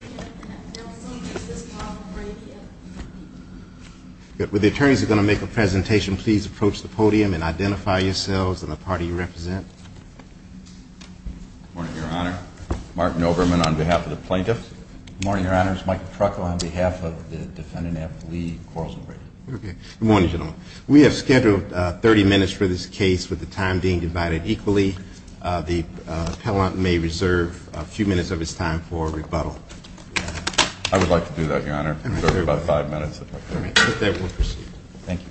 Good morning, Your Honor. Martin Overman on behalf of the Plaintiffs. Good morning, Your Honor. It's Michael Truckel on behalf of the defendant, Anthony Quarles & Brady. Good morning, gentlemen. We have scheduled 30 minutes for this case with the time being divided equally. The appellant may reserve a few minutes of his time for rebuttal. I would like to do that, Your Honor. Give me about five minutes. Okay, we'll proceed. Thank you.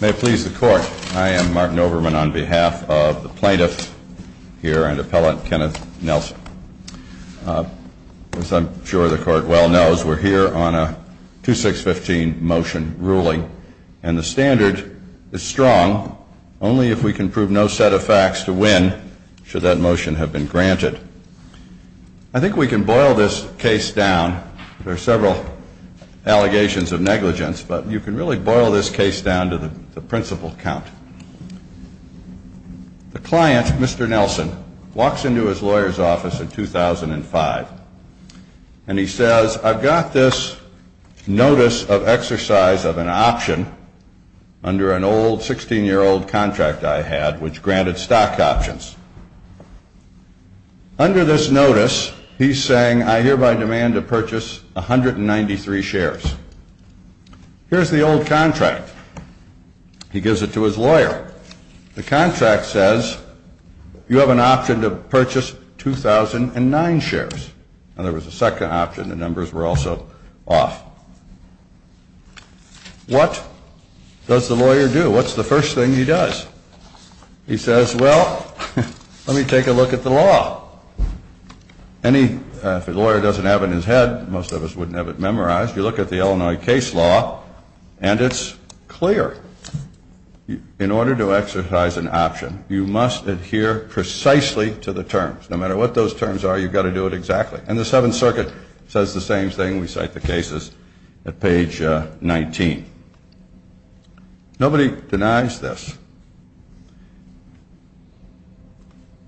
May it please the Court, I am Martin Overman on behalf of the Plaintiffs here and Appellant Kenneth Nelson. As I'm sure the Court well knows, we're here on a 2615 motion ruling, and the standard is strong. Only if we can prove no set of facts to win should that motion have been granted. I think we can boil this case down. There are several allegations of negligence, but you can really boil this case down to the principal count. The client, Mr. Nelson, walks into his lawyer's office in 2005, and he says, I've got this notice of exercise of an option under an old 16-year-old contract I had which granted stock options. Under this notice, he's saying I hereby demand to purchase 193 shares. Here's the old contract. He gives it to his lawyer. The contract says you have an option to purchase 2009 shares. Now, there was a second option. The numbers were also off. What does the lawyer do? What's the first thing he does? He says, well, let me take a look at the law. If a lawyer doesn't have it in his head, most of us wouldn't have it memorized. You look at the Illinois case law, and it's clear. In order to exercise an option, you must adhere precisely to the terms. No matter what those terms are, you've got to do it exactly. And the Seventh Circuit says the same thing. We cite the cases at page 19. Nobody denies this.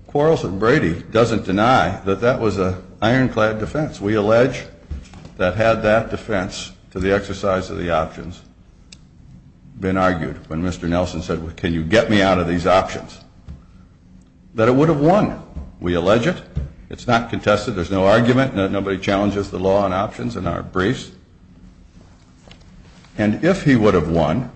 Quarles and Brady doesn't deny that that was an ironclad defense. We allege that had that defense to the exercise of the options been argued, when Mr. Nelson said, well, can you get me out of these options, that it would have won. We allege it. It's not contested. There's no argument. Nobody challenges the law on options in our briefs. And if he would have won,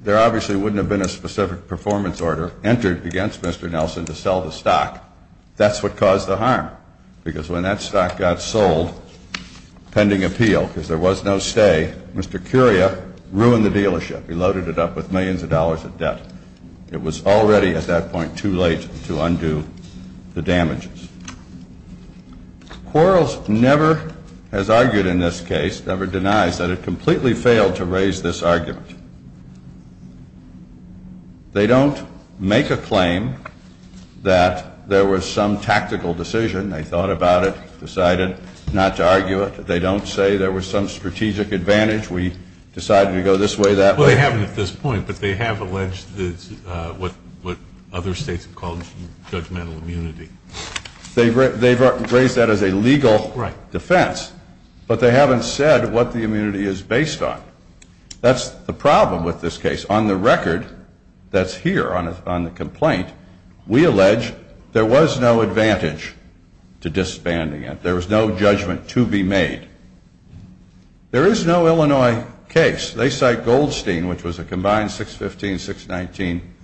there obviously wouldn't have been a specific performance order entered against Mr. Nelson to sell the stock. That's what caused the harm, because when that stock got sold pending appeal, because there was no stay, Mr. Curia ruined the dealership. He loaded it up with millions of dollars of debt. It was already at that point too late to undo the damages. Quarles never has argued in this case, never denies, that it completely failed to raise this argument. They don't make a claim that there was some tactical decision. They thought about it, decided not to argue it. They don't say there was some strategic advantage. We decided to go this way, that way. Well, they haven't at this point, but they have alleged what other states have called judgmental immunity. They've raised that as a legal defense, but they haven't said what the immunity is based on. That's the problem with this case. On the record that's here on the complaint, we allege there was no advantage to disbanding it. There was no judgment to be made. There is no Illinois case. They cite Goldstein, which was a combined 615, 619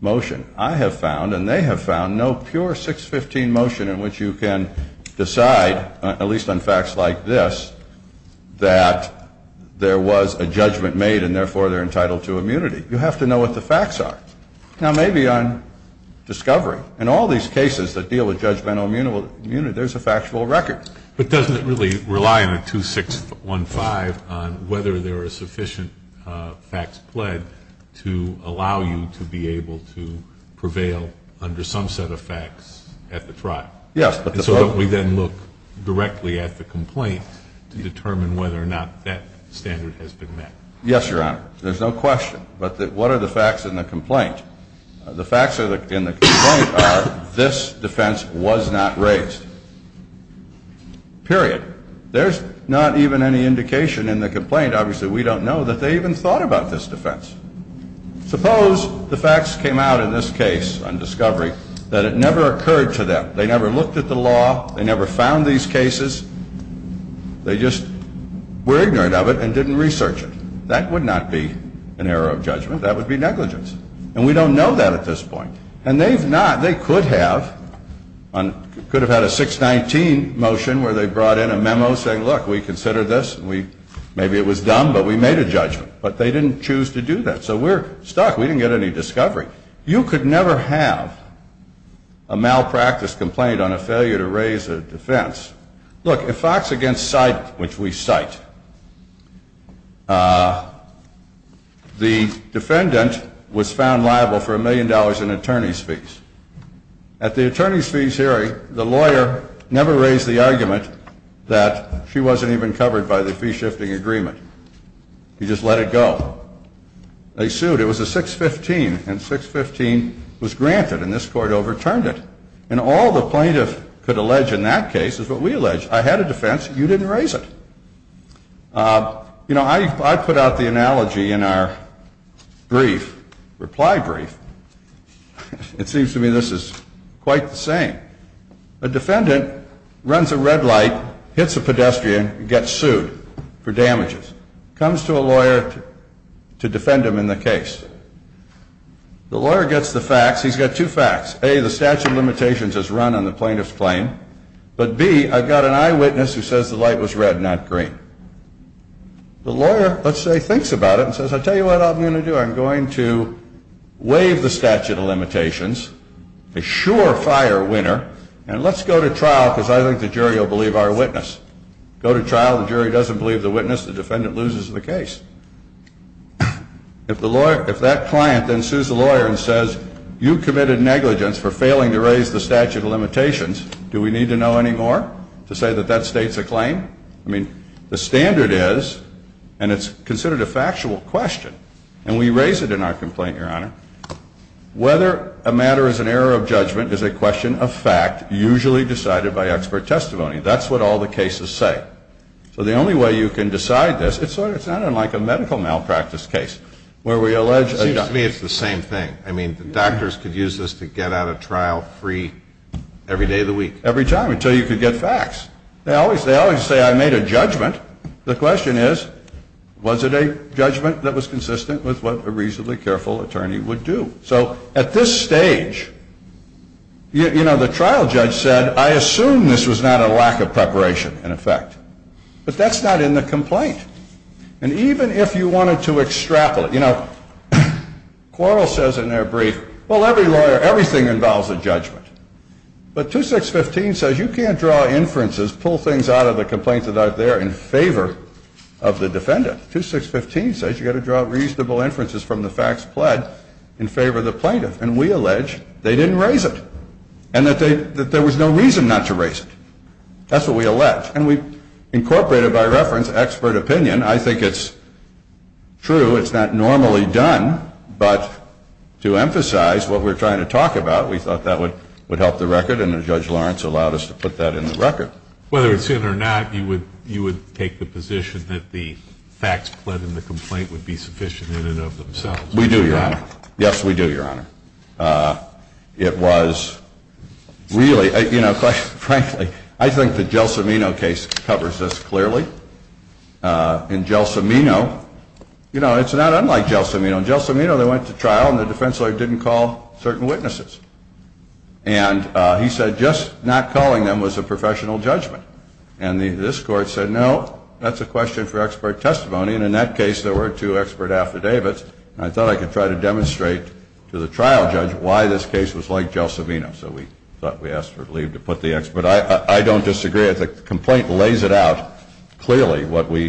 motion. I have found, and they have found, no pure 615 motion in which you can decide, at least on facts like this, that there was a judgment made and therefore they're entitled to immunity. You have to know what the facts are. Now, maybe on discovery, in all these cases that deal with judgmental immunity, there's a factual record. But doesn't it really rely on a 2615 on whether there are sufficient facts pled to allow you to be able to prevail under some set of facts at the trial? Yes. So don't we then look directly at the complaint to determine whether or not that standard has been met? Yes, Your Honor. There's no question. But what are the facts in the complaint? The facts in the complaint are this defense was not raised, period. There's not even any indication in the complaint, obviously we don't know, that they even thought about this defense. Suppose the facts came out in this case on discovery that it never occurred to them. They never looked at the law. They never found these cases. They just were ignorant of it and didn't research it. That would not be an error of judgment. That would be negligence. And we don't know that at this point. And they could have had a 619 motion where they brought in a memo saying, look, we considered this. Maybe it was dumb, but we made a judgment. But they didn't choose to do that. So we're stuck. We didn't get any discovery. You could never have a malpractice complaint on a failure to raise a defense. Look, if facts against sight, which we cite, the defendant was found liable for a million dollars in attorney's fees. At the attorney's fees hearing, the lawyer never raised the argument that she wasn't even covered by the fee-shifting agreement. He just let it go. They sued. It was a 615. And 615 was granted. And this court overturned it. And all the plaintiff could allege in that case is what we allege. I had a defense. You didn't raise it. You know, I put out the analogy in our brief, reply brief. It seems to me this is quite the same. A defendant runs a red light, hits a pedestrian, gets sued for damages, comes to a lawyer to defend him in the case. The lawyer gets the facts. He's got two facts. A, the statute of limitations is run on the plaintiff's claim. But B, I've got an eyewitness who says the light was red, not green. The lawyer, let's say, thinks about it and says, I'll tell you what I'm going to do. I'm going to waive the statute of limitations, assure fire winner, and let's go to trial because I think the jury will believe our witness. Go to trial. The jury doesn't believe the witness. The defendant loses the case. If that client then sues the lawyer and says, you committed negligence for failing to raise the statute of limitations, do we need to know any more to say that that states a claim? I mean, the standard is, and it's considered a factual question, and we raise it in our complaint, Your Honor, whether a matter is an error of judgment is a question of fact, usually decided by expert testimony. That's what all the cases say. So the only way you can decide this, it's not unlike a medical malpractice case where we allege. It seems to me it's the same thing. I mean, the doctors could use this to get out of trial free every day of the week. Every time until you could get facts. They always say I made a judgment. The question is, was it a judgment that was consistent with what a reasonably careful attorney would do? So at this stage, you know, the trial judge said, I assume this was not a lack of preparation, in effect. But that's not in the complaint. And even if you wanted to extrapolate, you know, Quarrel says in their brief, well, every lawyer, everything involves a judgment. But 2615 says you can't draw inferences, pull things out of the complaint that are there in favor of the defendant. 2615 says you've got to draw reasonable inferences from the facts pled in favor of the plaintiff. And we allege they didn't raise it and that there was no reason not to raise it. That's what we allege. And we incorporated by reference expert opinion. I think it's true. It's not normally done. But to emphasize what we're trying to talk about, we thought that would help the record. And Judge Lawrence allowed us to put that in the record. But whether it's in or not, you would take the position that the facts pled in the complaint would be sufficient in and of themselves. We do, Your Honor. Yes, we do, Your Honor. It was really, you know, frankly, I think the Gelsomino case covers this clearly. In Gelsomino, you know, it's not unlike Gelsomino. In Gelsomino, they went to trial and the defense lawyer didn't call certain witnesses. And he said just not calling them was a professional judgment. And this court said, no, that's a question for expert testimony. And in that case, there were two expert affidavits. And I thought I could try to demonstrate to the trial judge why this case was like Gelsomino. So we thought we asked for leave to put the expert. I don't disagree. The complaint lays it out clearly what we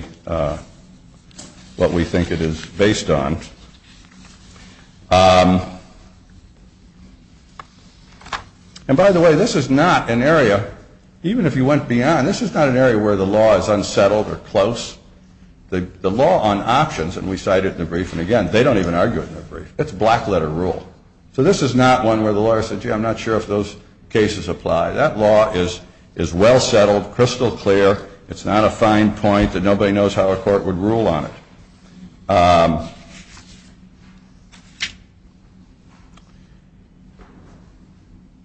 think it is based on. And by the way, this is not an area, even if you went beyond, this is not an area where the law is unsettled or close. The law on options, and we cited it in the brief, and again, they don't even argue it in the brief. It's black letter rule. So this is not one where the lawyer said, gee, I'm not sure if those cases apply. That law is well settled, crystal clear. It's not a fine point that nobody knows how a court would rule on it.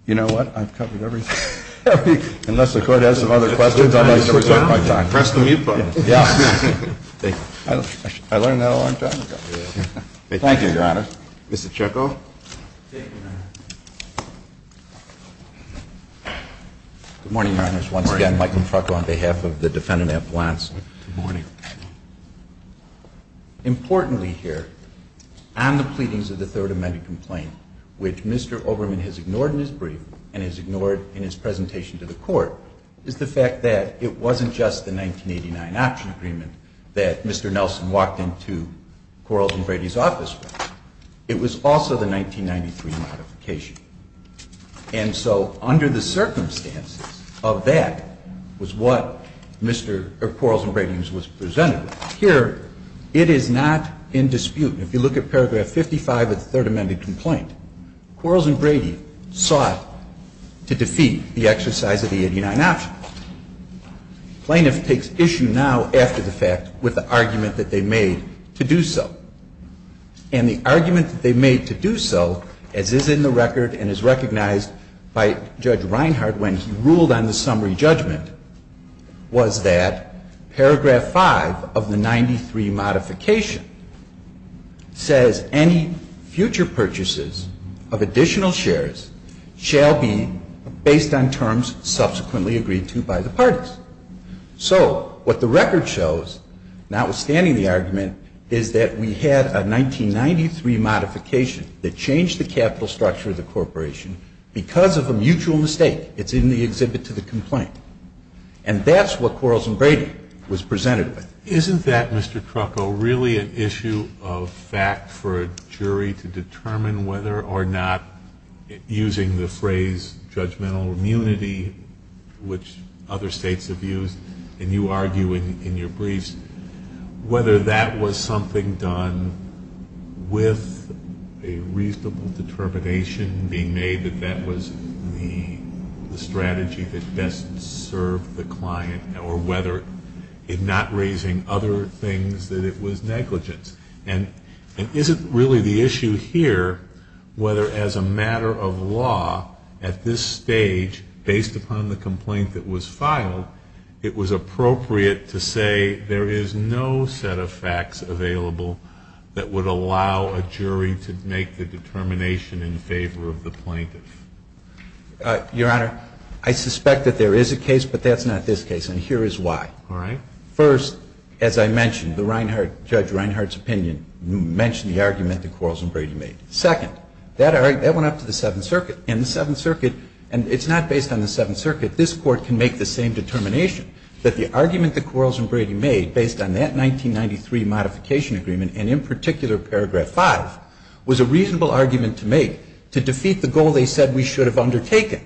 You know what? I've covered everything. Unless the court has some other questions, I'm going to take my time. Press the mute button. Yeah. I learned that a long time ago. Thank you, Your Honor. Mr. Chekov. Thank you, Your Honor. Good morning, Your Honors. Once again, Michael Chekov on behalf of the defendant at Blast. Good morning. Importantly here, on the pleadings of the third amended complaint, which Mr. Oberman has ignored in his brief and has ignored in his presentation to the court, is the fact that it wasn't just the 1989 option agreement that Mr. Nelson walked into Quarles and Brady's office with. It was also the 1993 modification. And so under the circumstances of that was what Mr. Quarles and Brady was presented with. Here, it is not in dispute. If you look at paragraph 55 of the third amended complaint, Quarles and Brady sought to defeat the exercise of the 89 option. Plaintiff takes issue now after the fact with the argument that they made to do so. And the argument that they made to do so, as is in the record and is recognized by Judge Reinhart when he ruled on the summary judgment, was that paragraph 5 of the 93 modification says, any future purchases of additional shares shall be based on terms subsequently agreed to by the parties. So what the record shows, notwithstanding the argument, is that we had a 1993 modification that changed the capital structure of the corporation because of a mutual mistake. It's in the exhibit to the complaint. And that's what Quarles and Brady was presented with. Isn't that, Mr. Trucco, really an issue of fact for a jury to determine whether or not, using the phrase, judgmental immunity, which other states have used, and you argue in your briefs, whether that was something done with a reasonable determination being made that that was the strategy that best served the client or whether, in not raising other things, that it was negligence. And is it really the issue here whether, as a matter of law, at this stage, based upon the complaint that was filed, it was appropriate to say there is no set of facts available that would allow a jury to make the determination in favor of the plaintiff? Your Honor, I suspect that there is a case, but that's not this case. And here is why. All right. First, as I mentioned, the Reinhart, Judge Reinhart's opinion mentioned the argument that Quarles and Brady made. Second, that went up to the Seventh Circuit. And the Seventh Circuit, and it's not based on the Seventh Circuit. This Court can make the same determination that the argument that Quarles and Brady made based on that 1993 modification agreement, and in particular paragraph 5, was a reasonable argument to make to defeat the goal they said we should have undertaken,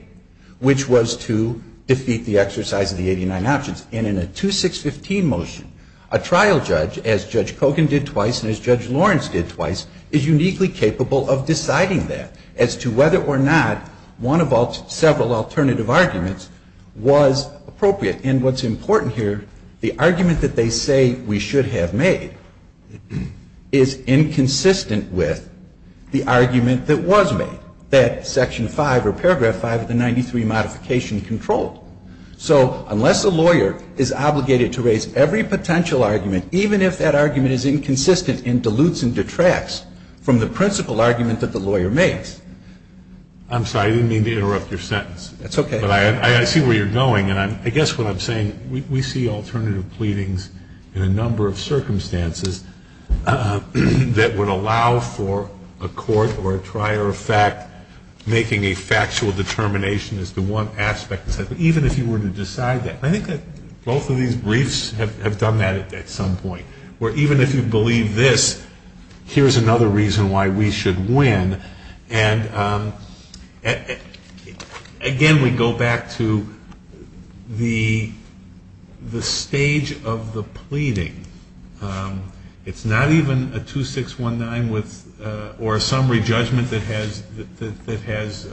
which was to defeat the exercise of the 89 options. And in a 2615 motion, a trial judge, as Judge Kogan did twice and as Judge Lawrence did twice, is uniquely capable of deciding that as to whether or not one of several alternative arguments was appropriate. And what's important here, the argument that they say we should have made is inconsistent with the argument that was made, that section 5 or paragraph 5 of the 93 modification controlled. So unless a lawyer is obligated to raise every potential argument, even if that argument is inconsistent and dilutes and detracts from the principal argument that the lawyer makes. I'm sorry, I didn't mean to interrupt your sentence. That's okay. But I see where you're going, and I guess what I'm saying, we see alternative pleadings in a number of circumstances that would allow for a court or a trier of even if you were to decide that. I think that both of these briefs have done that at some point, where even if you believe this, here's another reason why we should win. And again, we go back to the stage of the pleading. It's not even a 2619 or a summary judgment that has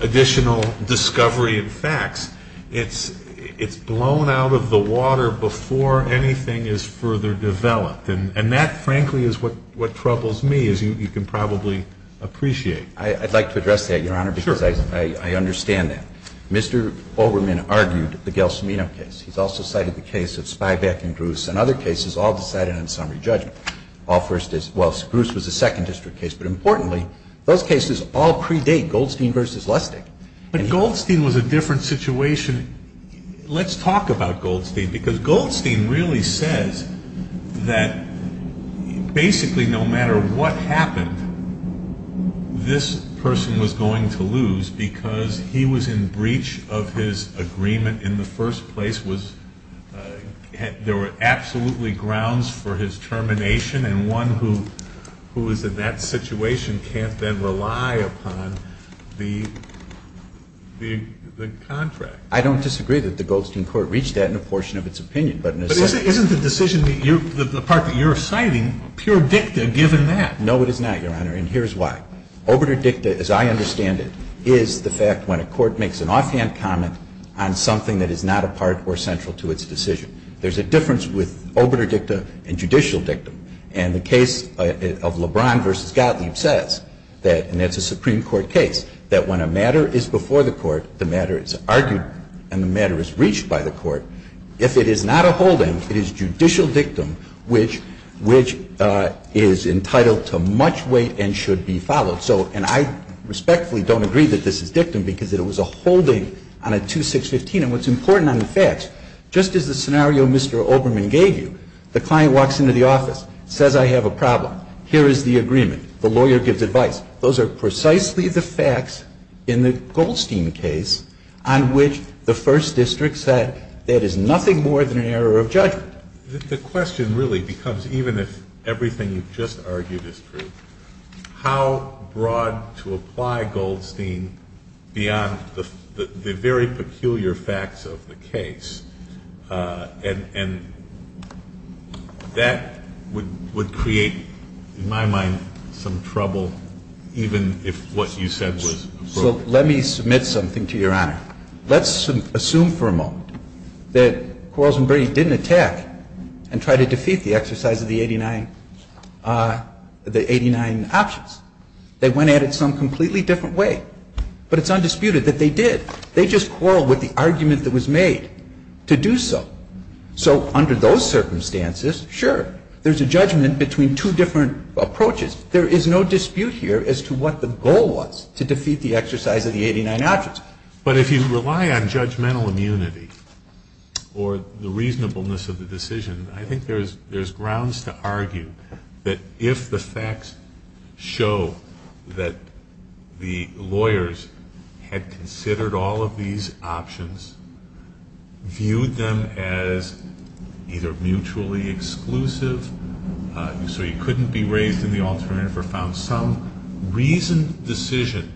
additional discovery and facts. It's blown out of the water before anything is further developed. And that, frankly, is what troubles me, as you can probably appreciate. I'd like to address that, Your Honor, because I understand that. Mr. Olbermann argued the Gelsomino case. He's also cited the case of Spybeck and Gruss and other cases all decided on summary judgment. All first districts. Well, Gruss was a second district case. But importantly, those cases all predate Goldstein v. Lustig. But Goldstein was a different situation. Let's talk about Goldstein, because Goldstein really says that basically no matter what happened, this person was going to lose because he was in breach of his agreement in the first place. There were absolutely grounds for his termination. And one who is in that situation can't then rely upon the contract. I don't disagree that the Goldstein court reached that in a portion of its opinion. But in a sense the decision that you're citing, pure dicta given that. No, it is not, Your Honor. And here's why. Overt or dicta, as I understand it, is the fact when a court makes an offhand comment on something that is not a part or central to its decision. There's a difference with overt or dicta and judicial dictum. And the case of LeBron v. Gottlieb says that, and that's a Supreme Court case, that when a matter is before the court, the matter is argued and the matter is reached by the court. If it is not a hold-in, it is judicial dictum which is entitled to much weight and should be followed. So, and I respectfully don't agree that this is dictum because it was a hold-in on a 2615. And what's important on the facts, just as the scenario Mr. Oberman gave you, the client walks into the office, says I have a problem. Here is the agreement. The lawyer gives advice. Those are precisely the facts in the Goldstein case on which the First District said that is nothing more than an error of judgment. The question really becomes, even if everything you've just argued is true, how does a broad to apply Goldstein beyond the very peculiar facts of the case? And that would create, in my mind, some trouble even if what you said was true. So let me submit something to Your Honor. Let's assume for a moment that Quarles and Berry didn't attack and try to defeat the exercise of the 89 options. They went at it some completely different way. But it's undisputed that they did. They just quarreled with the argument that was made to do so. So under those circumstances, sure, there's a judgment between two different approaches. There is no dispute here as to what the goal was to defeat the exercise of the 89 options. But if you rely on judgmental immunity or the reasonableness of the decision, I think there's grounds to argue that if the facts show that the lawyers had considered all of these options, viewed them as either mutually exclusive, so you couldn't be raised in the alternative or found some reasoned decision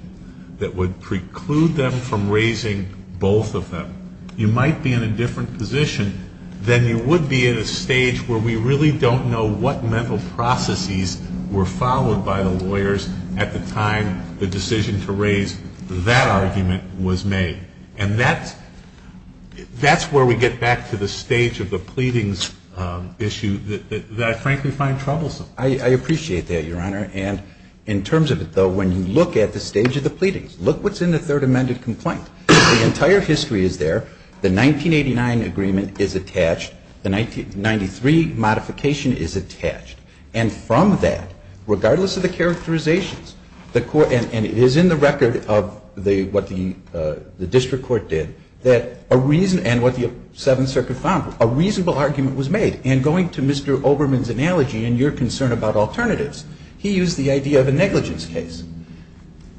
that would preclude them from raising both of them, you might be in a different position than you would be in a stage where we really don't know what mental processes were followed by the lawyers at the time the decision to raise that argument was made. And that's where we get back to the stage of the pleadings issue that I frankly find troublesome. I appreciate that, Your Honor. And in terms of it, though, when you look at the stage of the pleadings, look what's in the third amended complaint. The entire history is there. The 1989 agreement is attached. The 1993 modification is attached. And from that, regardless of the characterizations, the Court and it is in the record of what the district court did that a reason and what the Seventh Circuit found, a reasonable argument was made. And going to Mr. Obermann's analogy and your concern about alternatives, he used the idea of a negligence case.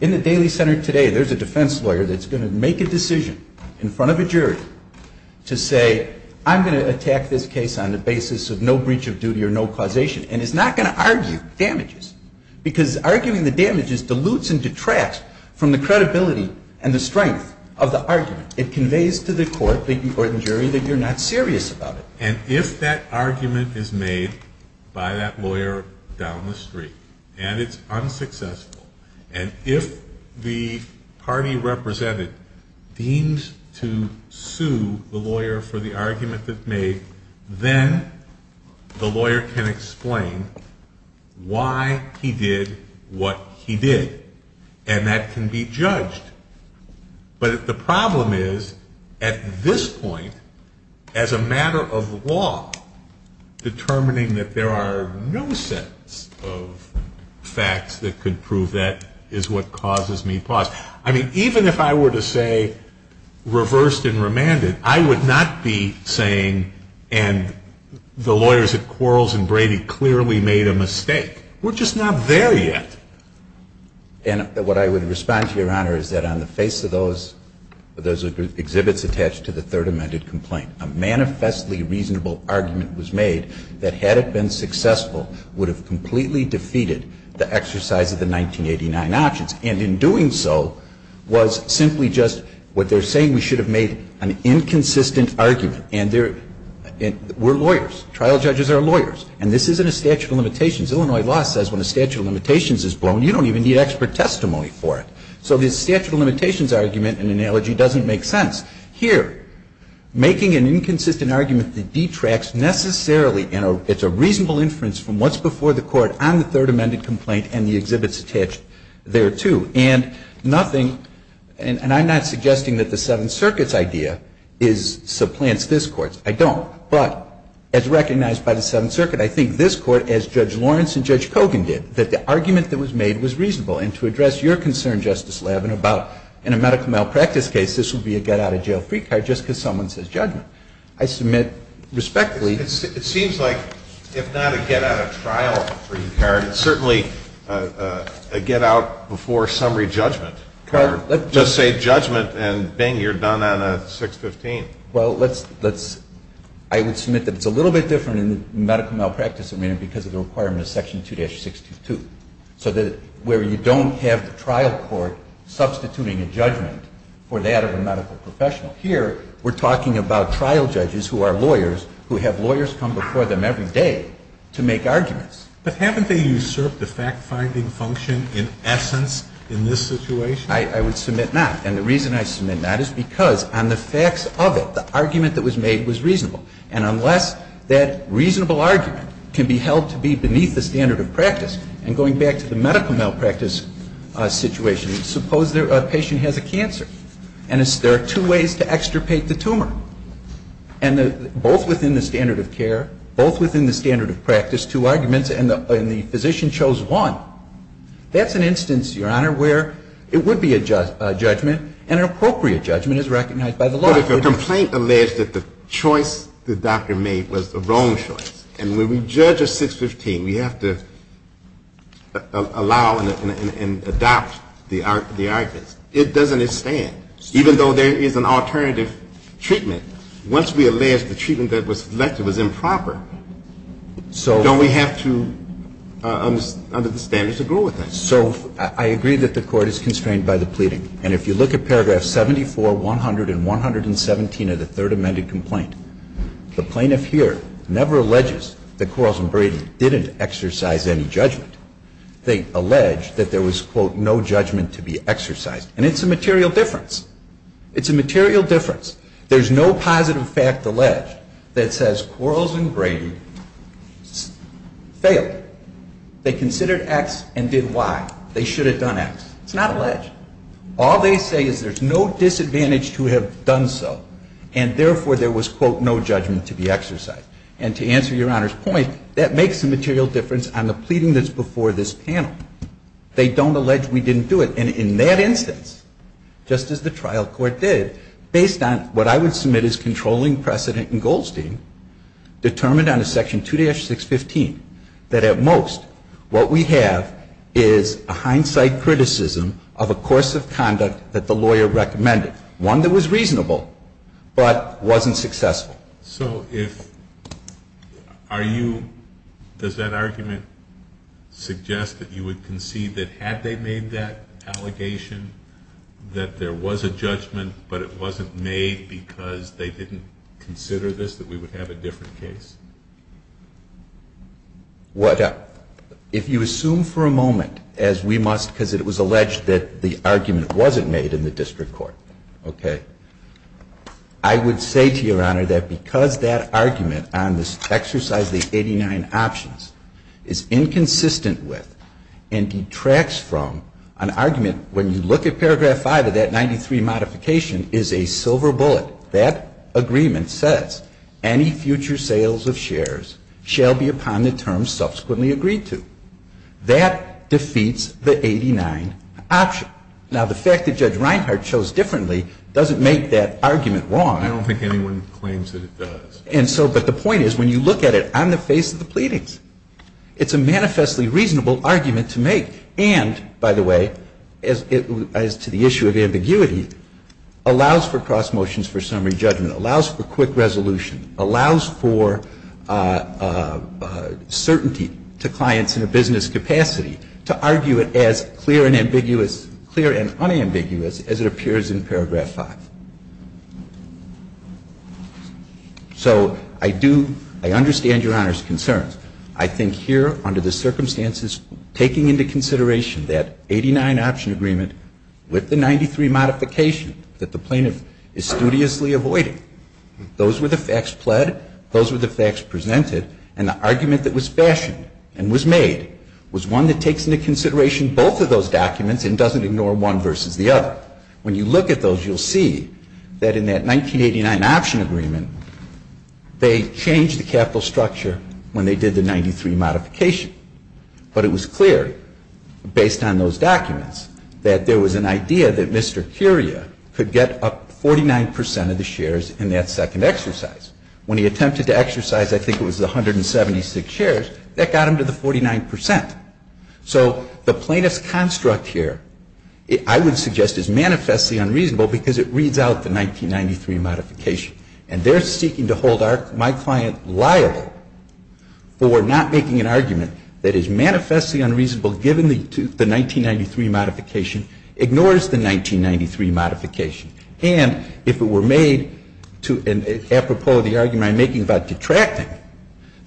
In the Daly Center today, there's a defense lawyer that's going to make a decision in front of a jury to say, I'm going to attack this case on the basis of no breach of duty or no causation. And it's not going to argue damages. Because arguing the damages dilutes and detracts from the credibility and the strength of the argument. It conveys to the court, the court and jury, that you're not serious about it. And if that argument is made by that lawyer down the street and it's unsuccessful, and if the party represented deems to sue the lawyer for the argument that's made, then the lawyer can explain why he did what he did. And that can be judged. But the problem is, at this point, as a matter of law, determining that there are no sets of facts that could prove that is what causes me pause. I mean, even if I were to say reversed and remanded, I would not be saying, and the lawyers at Quarles and Brady clearly made a mistake. We're just not there yet. And what I would respond to, Your Honor, is that on the face of those exhibits attached to the third amended complaint, a manifestly reasonable argument was made that had it been successful would have completely defeated the exercise of the 1989 options. And in doing so was simply just what they're saying we should have made an inconsistent argument. And we're lawyers. Trial judges are lawyers. And this isn't a statute of limitations. Illinois law says when a statute of limitations is blown, you don't even need expert testimony for it. So this statute of limitations argument and analogy doesn't make sense. Here, making an inconsistent argument that detracts necessarily, and it's a reasonable inference from what's before the Court on the third amended complaint and the exhibits attached there, too. And nothing, and I'm not suggesting that the Seventh Circuit's idea is, supplants this Court's. I don't. But as recognized by the Seventh Circuit, I think this Court, as Judge Lawrence and Judge Kogan did, that the argument that was made was reasonable. And to address your concern, Justice Levin, about in a medical malpractice case, this would be a get-out-of-jail-free card just because someone says judgment. I submit respectfully. It seems like, if not a get-out-of-trial-free card, it's certainly a get-out-before-summary judgment. Well, let's just say judgment and, bang, you're done on a 615. Well, let's – I would submit that it's a little bit different in the medical malpractice arena because of the requirement of Section 2-622. So that where you don't have the trial court substituting a judgment for that of a medical professional, here we're talking about trial judges who are lawyers, who have lawyers come before them every day to make arguments. But haven't they usurped the fact-finding function in essence in this situation? I would submit not. And the reason I submit not is because on the facts of it, the argument that was made was reasonable. And unless that reasonable argument can be held to be beneath the standard of practice and going back to the medical malpractice situation, suppose a patient has a cancer and there are two ways to extirpate the tumor, and both within the standard of care, both within the standard of practice, two arguments, and the physician chose one. That's an instance, Your Honor, where it would be a judgment and an appropriate judgment is recognized by the law. But if a complaint alleged that the choice the doctor made was the wrong choice and when we judge a 615, we have to allow and adopt the arguments, it doesn't stand, even though there is an alternative treatment. Once we allege the treatment that was selected was improper, don't we have to, under the standards, agree with that? So I agree that the Court is constrained by the pleading. And if you look at paragraphs 74, 100, and 117 of the Third Amended Complaint, the plaintiff here never alleges that Quarles and Brady didn't exercise any judgment. They allege that there was, quote, no judgment to be exercised. And it's a material difference. It's a material difference. There's no positive fact alleged that says Quarles and Brady failed. They considered X and did Y. They should have done X. It's not alleged. All they say is there's no disadvantage to have done so and, therefore, there was, quote, no judgment to be exercised. And to answer Your Honor's point, that makes a material difference on the pleading that's before this panel. They don't allege we didn't do it. And in that instance, just as the trial court did, based on what I would submit as controlling precedent in Goldstein, determined under Section 2-615, that at most what we have is a hindsight criticism of a course of conduct that the lawyer recommended, one that was reasonable but wasn't successful. So if you – does that argument suggest that you would concede that had they made that allegation that there was a judgment but it wasn't made because they didn't consider this, that we would have a different case? If you assume for a moment as we must, because it was alleged that the argument wasn't made in the district court, okay, I would say to Your Honor that because that argument on this exercise of the 89 options is inconsistent with and detracts from an argument when you look at paragraph 5 of that 93 modification is a silver bullet. That agreement says any future sales of shares shall be upon the terms subsequently agreed to. That defeats the 89 option. Now, the fact that Judge Reinhart chose differently doesn't make that argument wrong. I don't think anyone claims that it does. And so – but the point is when you look at it on the face of the pleadings, it's a manifestly reasonable argument to make. And, by the way, as to the issue of ambiguity, allows for cross motions for summary judgment, allows for quick resolution, allows for certainty to clients in a business capacity to argue it as clear and ambiguous, clear and unambiguous as it appears in paragraph 5. So I do, I understand Your Honor's concerns. I think here, under the circumstances, taking into consideration that 89 option agreement with the 93 modification that the plaintiff is studiously avoiding, those were the facts pled, those were the facts presented, and the argument that was fashioned and was made was one that takes into consideration both of those documents and doesn't ignore one versus the other. When you look at those, you'll see that in that 1989 option agreement, they changed the capital structure when they did the 93 modification. But it was clear, based on those documents, that there was an idea that Mr. Curia could get up 49 percent of the shares in that second exercise. When he attempted to exercise, I think it was 176 shares, that got him to the 49 percent. So the plaintiff's construct here, I would suggest, is manifestly unreasonable because it reads out the 1993 modification. And if it were made to an apropos of the argument I'm making about detracting,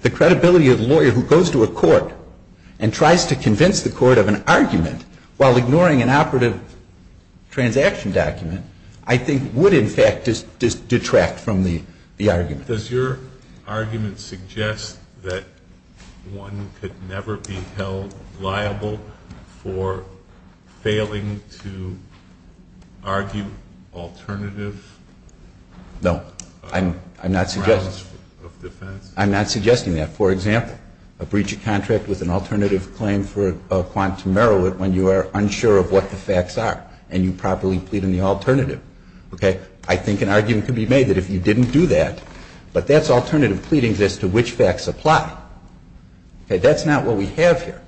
the credibility of the lawyer who goes to a court and tries to convince the court of an argument while ignoring an operative transaction document, I think would, I think that's a good argument. Does your argument suggest that one could never be held liable for failing to argue alternative grounds of defense? No. I'm not suggesting that. For example, a breach of contract with an alternative claim for a quantum merit when you are unsure of what the facts are and you properly plead on the alternative. Okay? I think an argument could be made that if you didn't do that, but that's alternative pleading as to which facts apply. Okay? That's not what we have here.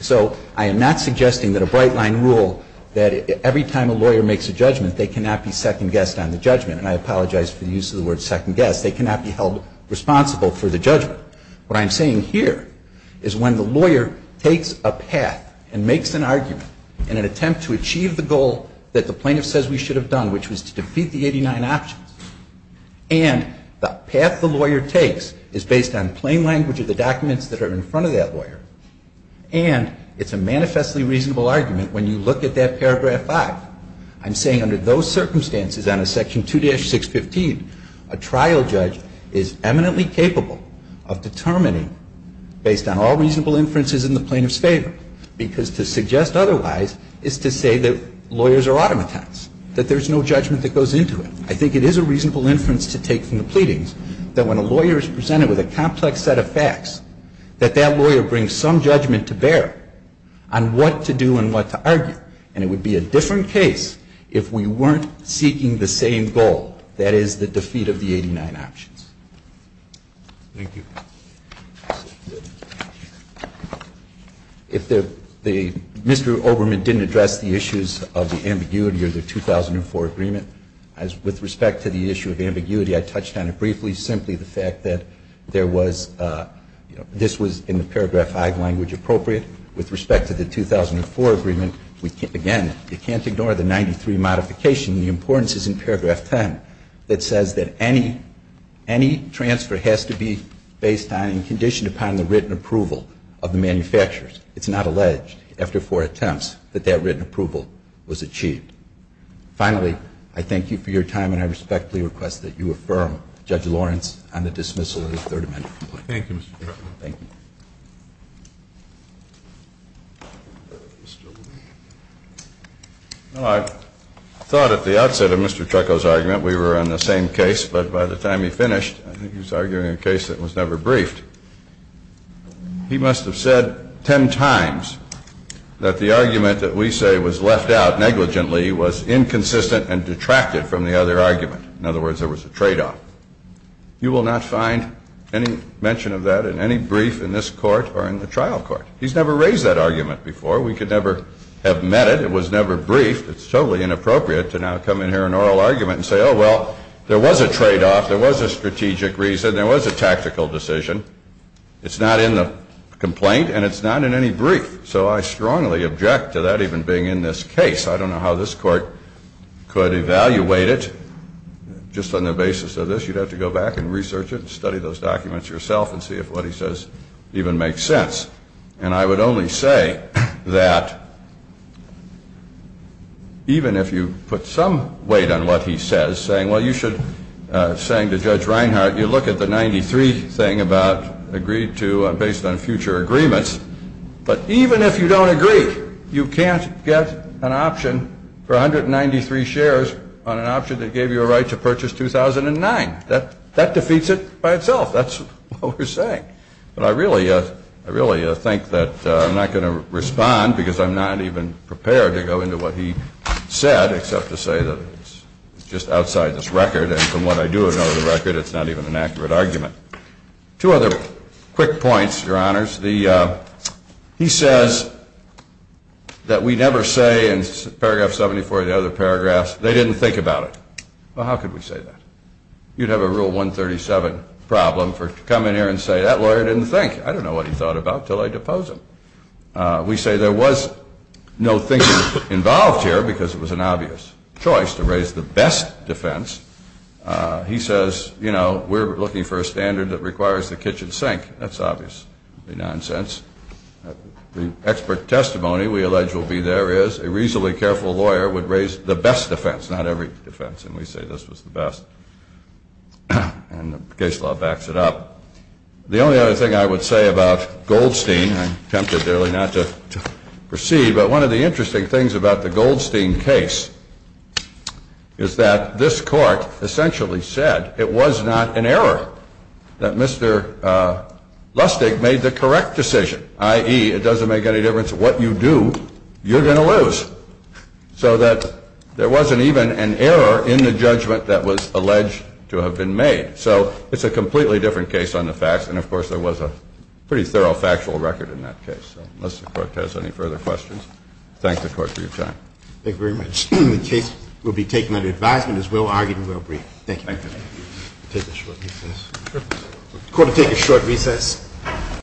So I am not suggesting that a bright-line rule that every time a lawyer makes a judgment, they cannot be second-guessed on the judgment. And I apologize for the use of the word second-guessed. They cannot be held responsible for the judgment. What I'm saying here is when the lawyer takes a path and makes an argument in an alternative claim, that's what he should have done, which was to defeat the 89 options. And the path the lawyer takes is based on plain language of the documents that are in front of that lawyer. And it's a manifestly reasonable argument when you look at that paragraph 5. I'm saying under those circumstances on a section 2-615, a trial judge is eminently capable of determining, based on all reasonable inferences in the plaintiff's What I would suggest otherwise is to say that lawyers are automatons, that there is no judgment that goes into it. I think it is a reasonable inference to take from the pleadings that when a lawyer is presented with a complex set of facts, that that lawyer brings some judgment to bear on what to do and what to argue. And it would be a different case if we weren't seeking the same goal, that is, the defeat of the 89 options. Thank you. Mr. Oberman didn't address the issues of the ambiguity of the 2004 agreement. With respect to the issue of ambiguity, I touched on it briefly, simply the fact that there was, this was in the paragraph 5 language appropriate. With respect to the 2004 agreement, again, you can't ignore the 93 modification. The importance is in paragraph 10 that says that any transfer has to be based on and conditioned upon the written approval of the manufacturers. It's not alleged after four attempts that that written approval was achieved. Finally, I thank you for your time and I respectfully request that you affirm, Judge Lawrence, on the dismissal of the Third Amendment complaint. Thank you, Mr. Chairman. Thank you. Mr. Oberman? Well, I thought at the outset of Mr. Trucco's argument we were on the same case, but by the time he finished, I think he was arguing a case that was never briefed. He must have said 10 times that the argument that we say was left out negligently was inconsistent and detracted from the other argument. In other words, there was a tradeoff. You will not find any mention of that in any brief in this Court or in the trial court. He's never raised that argument before. We could never have met it. It was never briefed. It's totally inappropriate to now come in here in oral argument and say, oh, well, there was a tradeoff, there was a strategic reason, there was a tactical decision. It's not in the complaint and it's not in any brief. So I strongly object to that even being in this case. I don't know how this Court could evaluate it. Just on the basis of this, you'd have to go back and research it and study those documents yourself and see if what he says even makes sense. And I would only say that even if you put some weight on what he says, saying, well, you should, saying to Judge Reinhart, you look at the 93 thing about agreed to based on future agreements, but even if you don't agree, you can't get an option for 193 shares on an option that gave you a right to purchase 2009. That defeats it by itself. That's what we're saying. But I really think that I'm not going to respond because I'm not even prepared to go into what he said, except to say that it's just outside this record. And from what I do know of the record, it's not even an accurate argument. Two other quick points, Your Honors. He says that we never say in paragraph 74 of the other paragraphs, they didn't think about it. Well, how could we say that? You'd have a rule 137 problem for coming here and say, that lawyer didn't think. I don't know what he thought about it until I depose him. We say there was no thinking involved here because it was an obvious choice to raise the best defense. He says, you know, we're looking for a standard that requires the kitchen sink. That's obvious. It would be nonsense. The expert testimony we allege will be there is a reasonably careful lawyer would raise the best defense, not every defense, and we say this was the best. And the case law backs it up. The only other thing I would say about Goldstein, I'm tempted really not to proceed, but one of the interesting things about the Goldstein case is that this Court essentially said it was not an error that Mr. Lustig made the correct decision, i.e., it doesn't make any difference what you do, you're going to lose. So that there wasn't even an error in the judgment that was alleged to have been made. So it's a completely different case on the facts, and of course there was a pretty thorough factual record in that case. So unless the Court has any further questions, I thank the Court for your time. Thank you very much. The case will be taken under advisement. It was well-argued and well-briefed. Thank you. Thank you. We'll take a short recess. The Court will take a short recess.